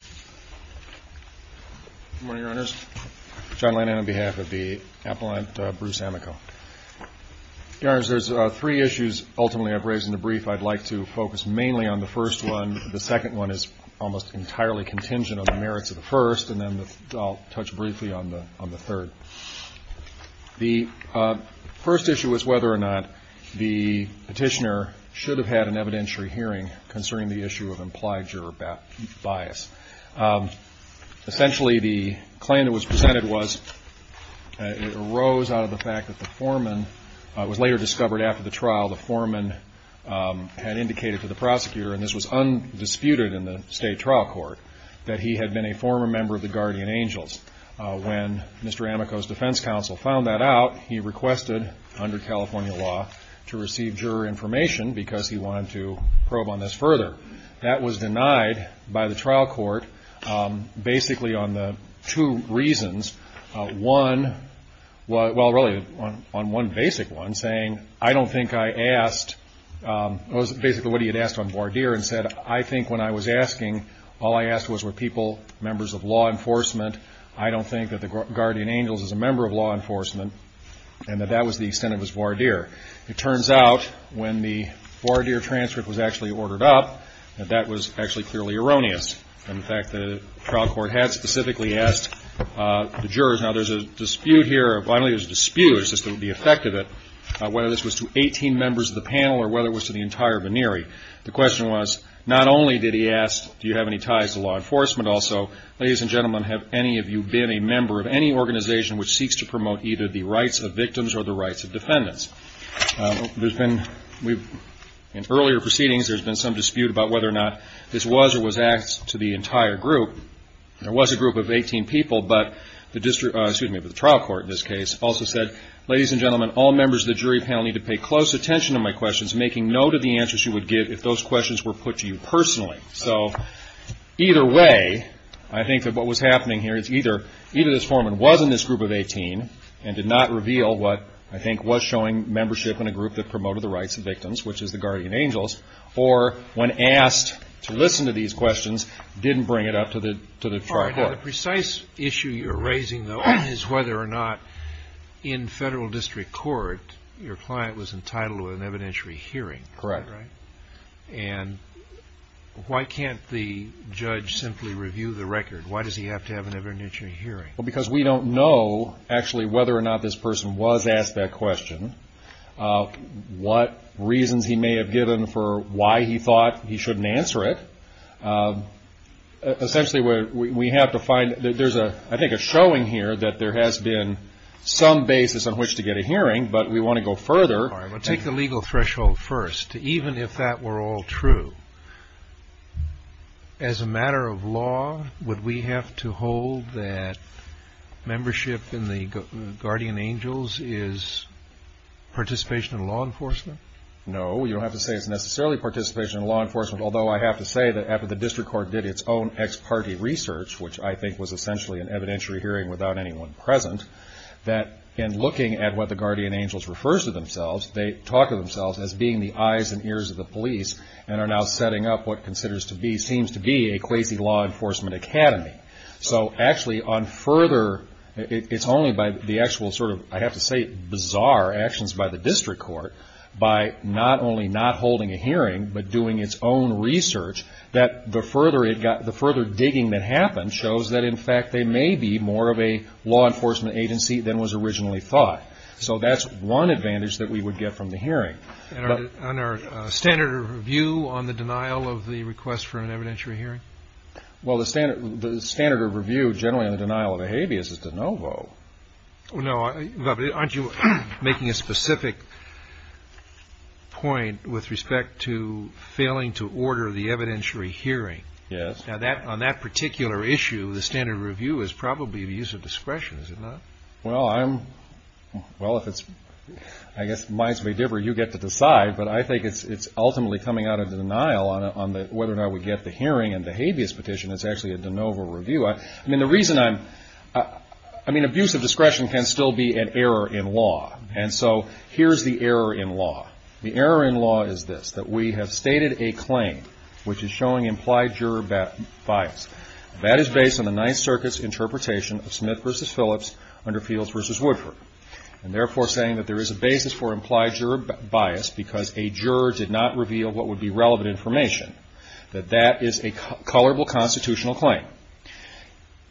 Good morning, Your Honors. John Lannan on behalf of the Appellant, Bruce AMICO. Your Honors, there's three issues, ultimately, I've raised in the brief. I'd like to focus mainly on the first one. The second one is almost entirely contingent on the merits of the first, and then I'll touch briefly on the third. The first issue is whether or not the petitioner should have had an evidentiary hearing concerning the issue of implied juror bias. Essentially, the claim that was presented was, it arose out of the fact that the foreman, it was later discovered after the trial, the foreman had indicated to the prosecutor, and this was undisputed in the state trial court, that he had been a former member of the Guardian Angels. When Mr. AMICO's defense counsel found that out, he requested, under California law, to receive juror information because he wanted to probe on this further. That was denied by the trial court, basically on the two reasons. One, well, really, on one basic one, saying, I don't think I asked, it was basically what he had asked on voir dire, and said, I think when I was asking, all I asked was were people members of law enforcement, I don't think that the Guardian Angels is a member of law enforcement, and that that was the extent of his voir dire. It turns out, when the voir dire transcript was actually ordered up, that that was actually clearly erroneous. In fact, the trial court had specifically asked the jurors, now there's a dispute here, I don't think it was a dispute, it's just the effect of it, whether this was to 18 members of the panel or whether it was to the entire venere. The question was, not only did he ask, do you have any ties to law enforcement also, ladies and gentlemen, have any of you been a member of any organization which seeks to promote either the rights of In earlier proceedings, there's been some dispute about whether or not this was or was asked to the entire group. There was a group of 18 people, but the trial court in this case also said, ladies and gentlemen, all members of the jury panel need to pay close attention to my questions, making note of the answers you would give if those questions were put to you personally. So, either way, I think that what was happening here is either this foreman was in this group of 18 and did not reveal what I think was showing membership in a group that promoted the rights of victims, which is the Guardian Angels, or when asked to listen to these questions, didn't bring it up to the trial court. The precise issue you're raising, though, is whether or not in federal district court your client was entitled to an evidentiary hearing. Correct. And why can't the judge simply review the record? Why does he have to have an evidentiary hearing? Because we don't know, actually, whether or not this person was asked that question, what reasons he may have given for why he thought he shouldn't answer it. Essentially, we have to find that there's a, I think, a showing here that there has been some basis on which to get a hearing, but we want to go further. Take the legal threshold first. Even if that were all true, as a matter of law, would we have to hold that membership in the Guardian Angels is participation in law enforcement? No, you don't have to say it's necessarily participation in law enforcement, although I have to say that after the district court did its own ex-party research, which I think was essentially an evidentiary hearing without anyone present, that in looking at what the talk of themselves as being the eyes and ears of the police and are now setting up what considers to be, seems to be, a crazy law enforcement academy. So actually, on further, it's only by the actual sort of, I have to say, bizarre actions by the district court, by not only not holding a hearing, but doing its own research, that the further digging that happened shows that, in fact, they may be more of a law enforcement agency than was what we would get from the hearing. And our standard of review on the denial of the request for an evidentiary hearing? Well, the standard of review generally on the denial of a habeas is de novo. No, but aren't you making a specific point with respect to failing to order the evidentiary hearing? Yes. Now, on that particular issue, the standard of review is probably the use of discretion, is it not? Well, I'm, well, if it's, I guess, minds may differ, you get to decide, but I think it's ultimately coming out of the denial on whether or not we get the hearing and the habeas petition, it's actually a de novo review. I mean, the reason I'm, I mean, abuse of discretion can still be an error in law, and so here's the error in law. The error in law is this, that we have stated a claim, which is showing implied juror bias. That is based on the Ninth Circuit's under Fields v. Woodford, and therefore saying that there is a basis for implied juror bias because a juror did not reveal what would be relevant information, that that is a colorable constitutional claim.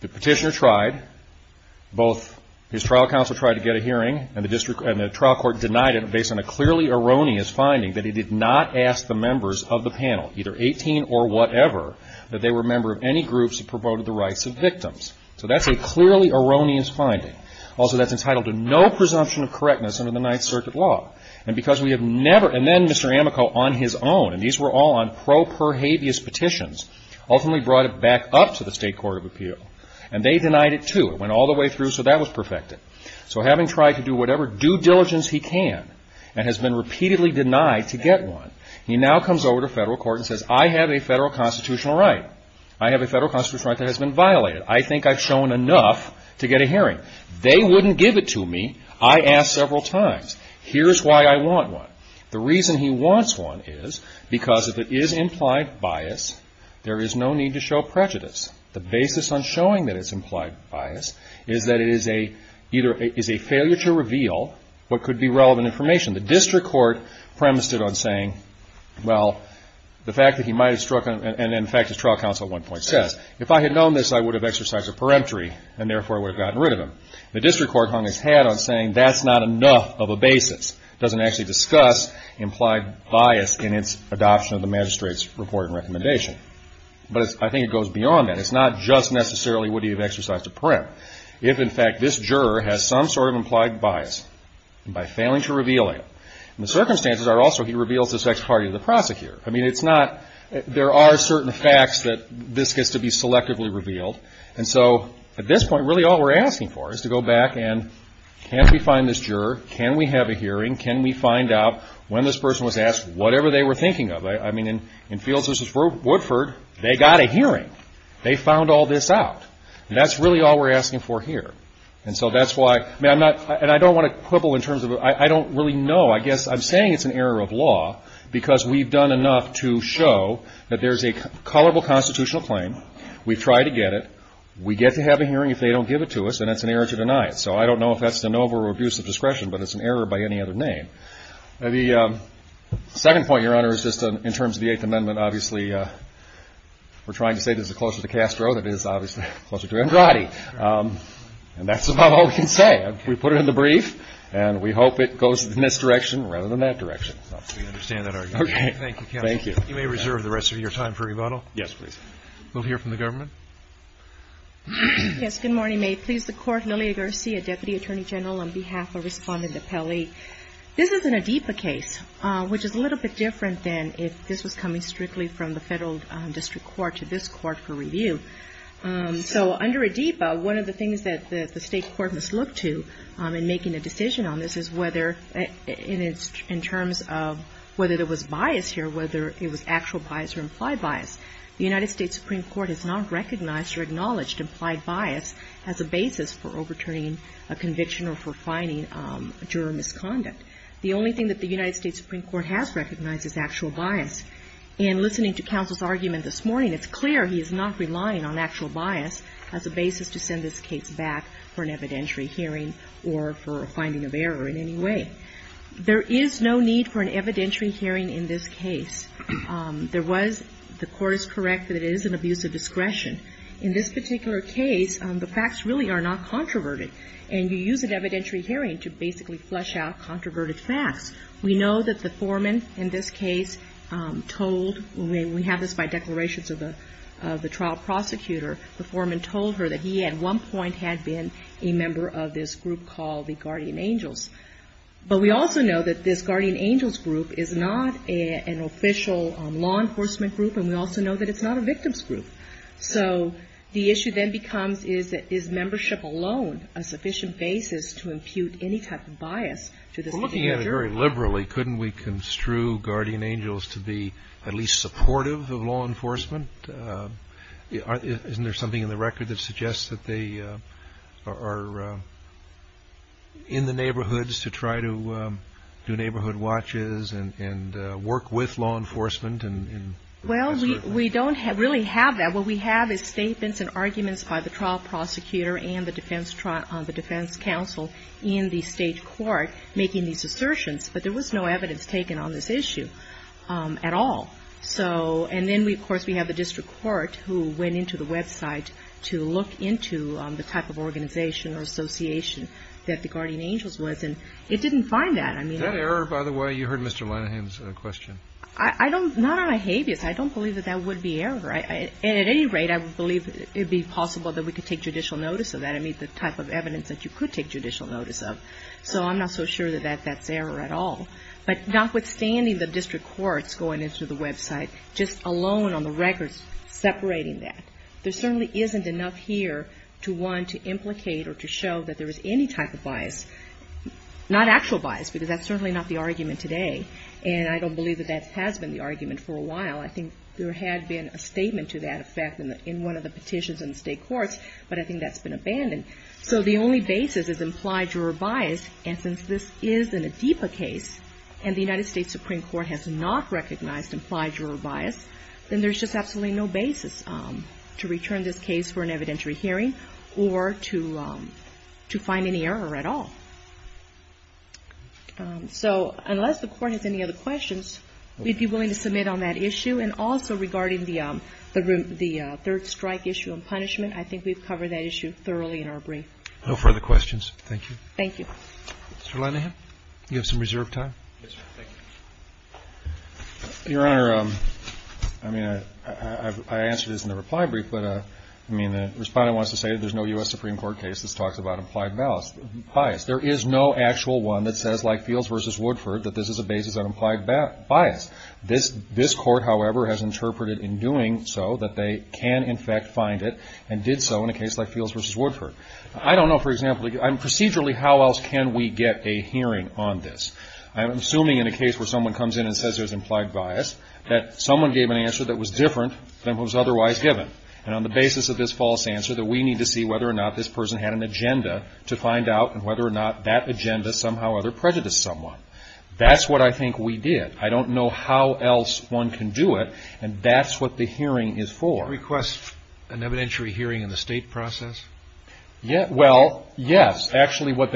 The petitioner tried, both his trial counsel tried to get a hearing, and the district, and the trial court denied it based on a clearly erroneous finding that he did not ask the members of the panel, either 18 or whatever, that they were a member of any groups who were a member of the district. And so that's a very clearly erroneous finding. Also, that's entitled to no presumption of correctness under the Ninth Circuit law. And because we have never, and then Mr. Amico on his own, and these were all on pro per habeas petitions, ultimately brought it back up to the State Court of Appeal, and they denied it too. It went all the way through, so that was perfected. So having tried to do whatever due diligence he can and has been repeatedly denied to get one. He now comes over to federal court and says, I have a federal constitutional right. I have a federal constitutional right that has been violated. I think I've shown enough to get a hearing. They wouldn't give it to me. I asked several times. Here's why I want one. The reason he wants one is because if it is implied bias, there is no need to show prejudice. The basis on showing that it's implied bias is that it is a failure to reveal what could be relevant information. The district court premised it on saying, well, the fact that he might have struck, and in fact his trial counsel at one point says, if I had known this, I would have exercised a peremptory and therefore would have gotten rid of him. The district court hung its hat on saying that's not enough of a basis. Doesn't actually discuss implied bias in its adoption of the magistrate's report and recommendation. But I think it goes beyond that. It's not just necessarily would he have exercised a peremptory. If in fact this juror has some sort of implied bias, and by failing to reveal it, and the circumstances are also he reveals his ex-party to the prosecutor. I mean, it's not, there are certain facts that this gets to be selectively revealed. And so at this point, really all we're asking for is to go back and can we find this juror? Can we have a hearing? Can we find out when this person was asked whatever they were thinking of? I mean, in Fields v. Woodford, they got a hearing. They found all this out. And that's really all we're asking for here. And so that's why, I mean, I'm not, and I don't want to quibble in terms of, I don't really know. I guess I'm saying it's an error of law because we've done enough to show that there's a colorable constitutional claim. We've tried to get it. We get to have a hearing if they don't give it to us, and it's an error to deny it. So I don't know if that's de novo or abuse of discretion, but it's an error by any other name. The second point, Your Honor, is just in terms of the Eighth Amendment, obviously we're trying to say this is closer to Castro than it is obviously closer to Andrade. And that's about all we can say. We put it in the brief, and we hope it goes in this direction rather than that direction. We understand that argument. Okay. Thank you, counsel. Thank you. You may reserve the rest of your time for rebuttal. Yes, please. We'll hear from the government. Yes, good morning. May it please the Court, Lilia Garcia, Deputy Attorney General, on behalf of Respondent Apelli. This is an ADIPA case, which is a little bit different than if this was coming strictly from the federal district court to this court for review. So under ADIPA, one of the things that the state court must look to in making a decision on this is whether in terms of whether there was bias here, whether it was actual bias or implied bias. The United States Supreme Court has not recognized or acknowledged implied bias as a basis for overturning a conviction or for fining a juror of misconduct. The only thing that the United States Supreme Court has recognized is actual bias. And listening to counsel's argument this morning, it's clear he is not relying on actual bias as a basis to send this case back for an evidentiary hearing or for a finding of error in any way. There is no need for an evidentiary hearing in this case. There was, the Court is correct that it is an abuse of discretion. In this particular case, the facts really are not controverted. And you use an evidentiary hearing to basically flush out controverted facts. We know that the foreman in this case told, we have this by declarations of the trial prosecutor, the foreman told her that he at one point had been a member of this group called the Guardian Angels. But we also know that this Guardian Angels group is not an official law enforcement group, and we also know that it's not a victim's group. So the issue then becomes is that is membership alone a sufficient basis to impute any type of bias to this individual? We're looking at it very liberally. Couldn't we construe Guardian Angels to be at least supportive of law enforcement? Isn't there something in the record that suggests that they are in the neighborhoods to try to do neighborhood watches and work with law enforcement? Well, we don't really have that. What we have is statements and arguments by the trial prosecutor and the defense trial, in the state court, making these assertions. But there was no evidence taken on this issue at all. And then, of course, we have the district court who went into the website to look into the type of organization or association that the Guardian Angels was. And it didn't find that. That error, by the way, you heard Mr. Linehan's question. Not on a habeas. I don't believe that that would be error. At any rate, I believe it would be possible that we could take judicial notice of that. I mean, the type of evidence that you could take judicial notice of. So I'm not so sure that that's error at all. But notwithstanding the district courts going into the website, just alone on the records separating that, there certainly isn't enough here to, one, to implicate or to show that there is any type of bias. Not actual bias, because that's certainly not the argument today. And I don't believe that that has been the argument for a while. I think there had been a statement to that effect in one of the petitions in the state courts, but I think that's been abandoned. So the only basis is implied juror bias. And since this is an ADIPA case and the United States Supreme Court has not recognized implied juror bias, then there's just absolutely no basis to return this case for an evidentiary hearing or to find any error at all. So unless the Court has any other questions, we'd be willing to submit on that issue. And also regarding the third strike issue and punishment, I think we've covered that issue thoroughly in our brief. No further questions. Thank you. Thank you. Mr. Linehan, you have some reserved time. Yes, sir. Thank you. Your Honor, I mean, I answered this in the reply brief, but, I mean, the Respondent wants to say that there's no U.S. Supreme Court case that talks about implied bias. There is no actual one that says, like Fields v. Woodford, that this is a basis of implied bias. This Court, however, has interpreted in doing so that they can, in fact, find it and did so in a case like Fields v. Woodford. I don't know, for example, procedurally how else can we get a hearing on this. I'm assuming in a case where someone comes in and says there's implied bias, that someone gave an answer that was different than what was otherwise given. And on the basis of this false answer that we need to see whether or not this person had an agenda to find out and whether or not that agenda somehow or other prejudiced someone. That's what I think we did. I don't know how else one can do it. And that's what the hearing is for. Did he request an evidentiary hearing in the state process? Well, yes. Actually, what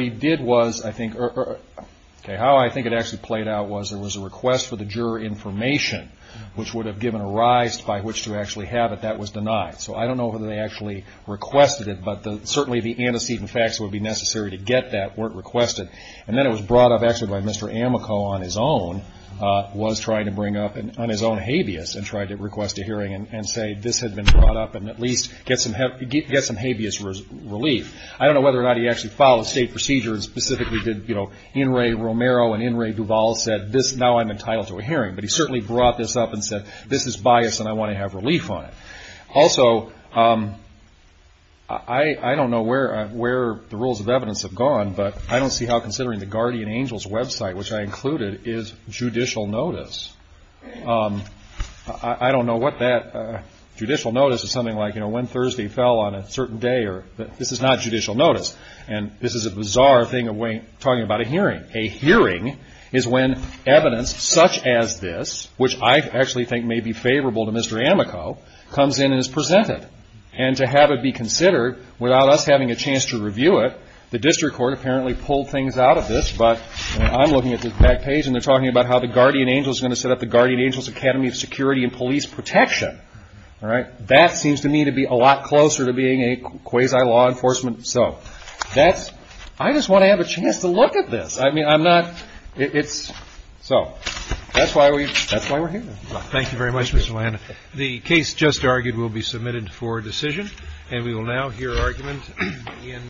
he did was, I think, okay, how I think it actually played out was there was a request for the juror information, which would have given a rise by which to actually have it. That was denied. So I don't know whether they actually requested it, but certainly the antecedent facts that would be necessary to get that weren't requested. And then it was brought up actually by Mr. Amico on his own, was trying to bring up on his own habeas and tried to request a hearing and say this had been brought up and at least get some habeas relief. I don't know whether or not he actually followed state procedure and specifically did, you know, In re Romero and In re Duval said this, now I'm entitled to a hearing. But he certainly brought this up and said this is bias and I want to have relief on it. Also, I don't know where the rules of evidence have gone, but I don't see how considering the Guardian Angels website, which I included, is judicial notice. I don't know what that judicial notice is. Something like, you know, when Thursday fell on a certain day. This is not judicial notice. And this is a bizarre thing of talking about a hearing. A hearing is when evidence such as this, which I actually think may be favorable to Mr. Amico, comes in and is presented. And to have it be considered without us having a chance to review it, the district court apparently pulled things out of this. But I'm looking at the back page and they're talking about how the Guardian Angels are going to set up the Guardian Angels Academy of Security and Police Protection. All right. That seems to me to be a lot closer to being a quasi law enforcement. So that's, I just want to have a chance to look at this. I mean, I'm not, it's, so that's why we're here. Thank you very much, Mr. Landau. The case just argued will be submitted for decision. And we will now hear argument in.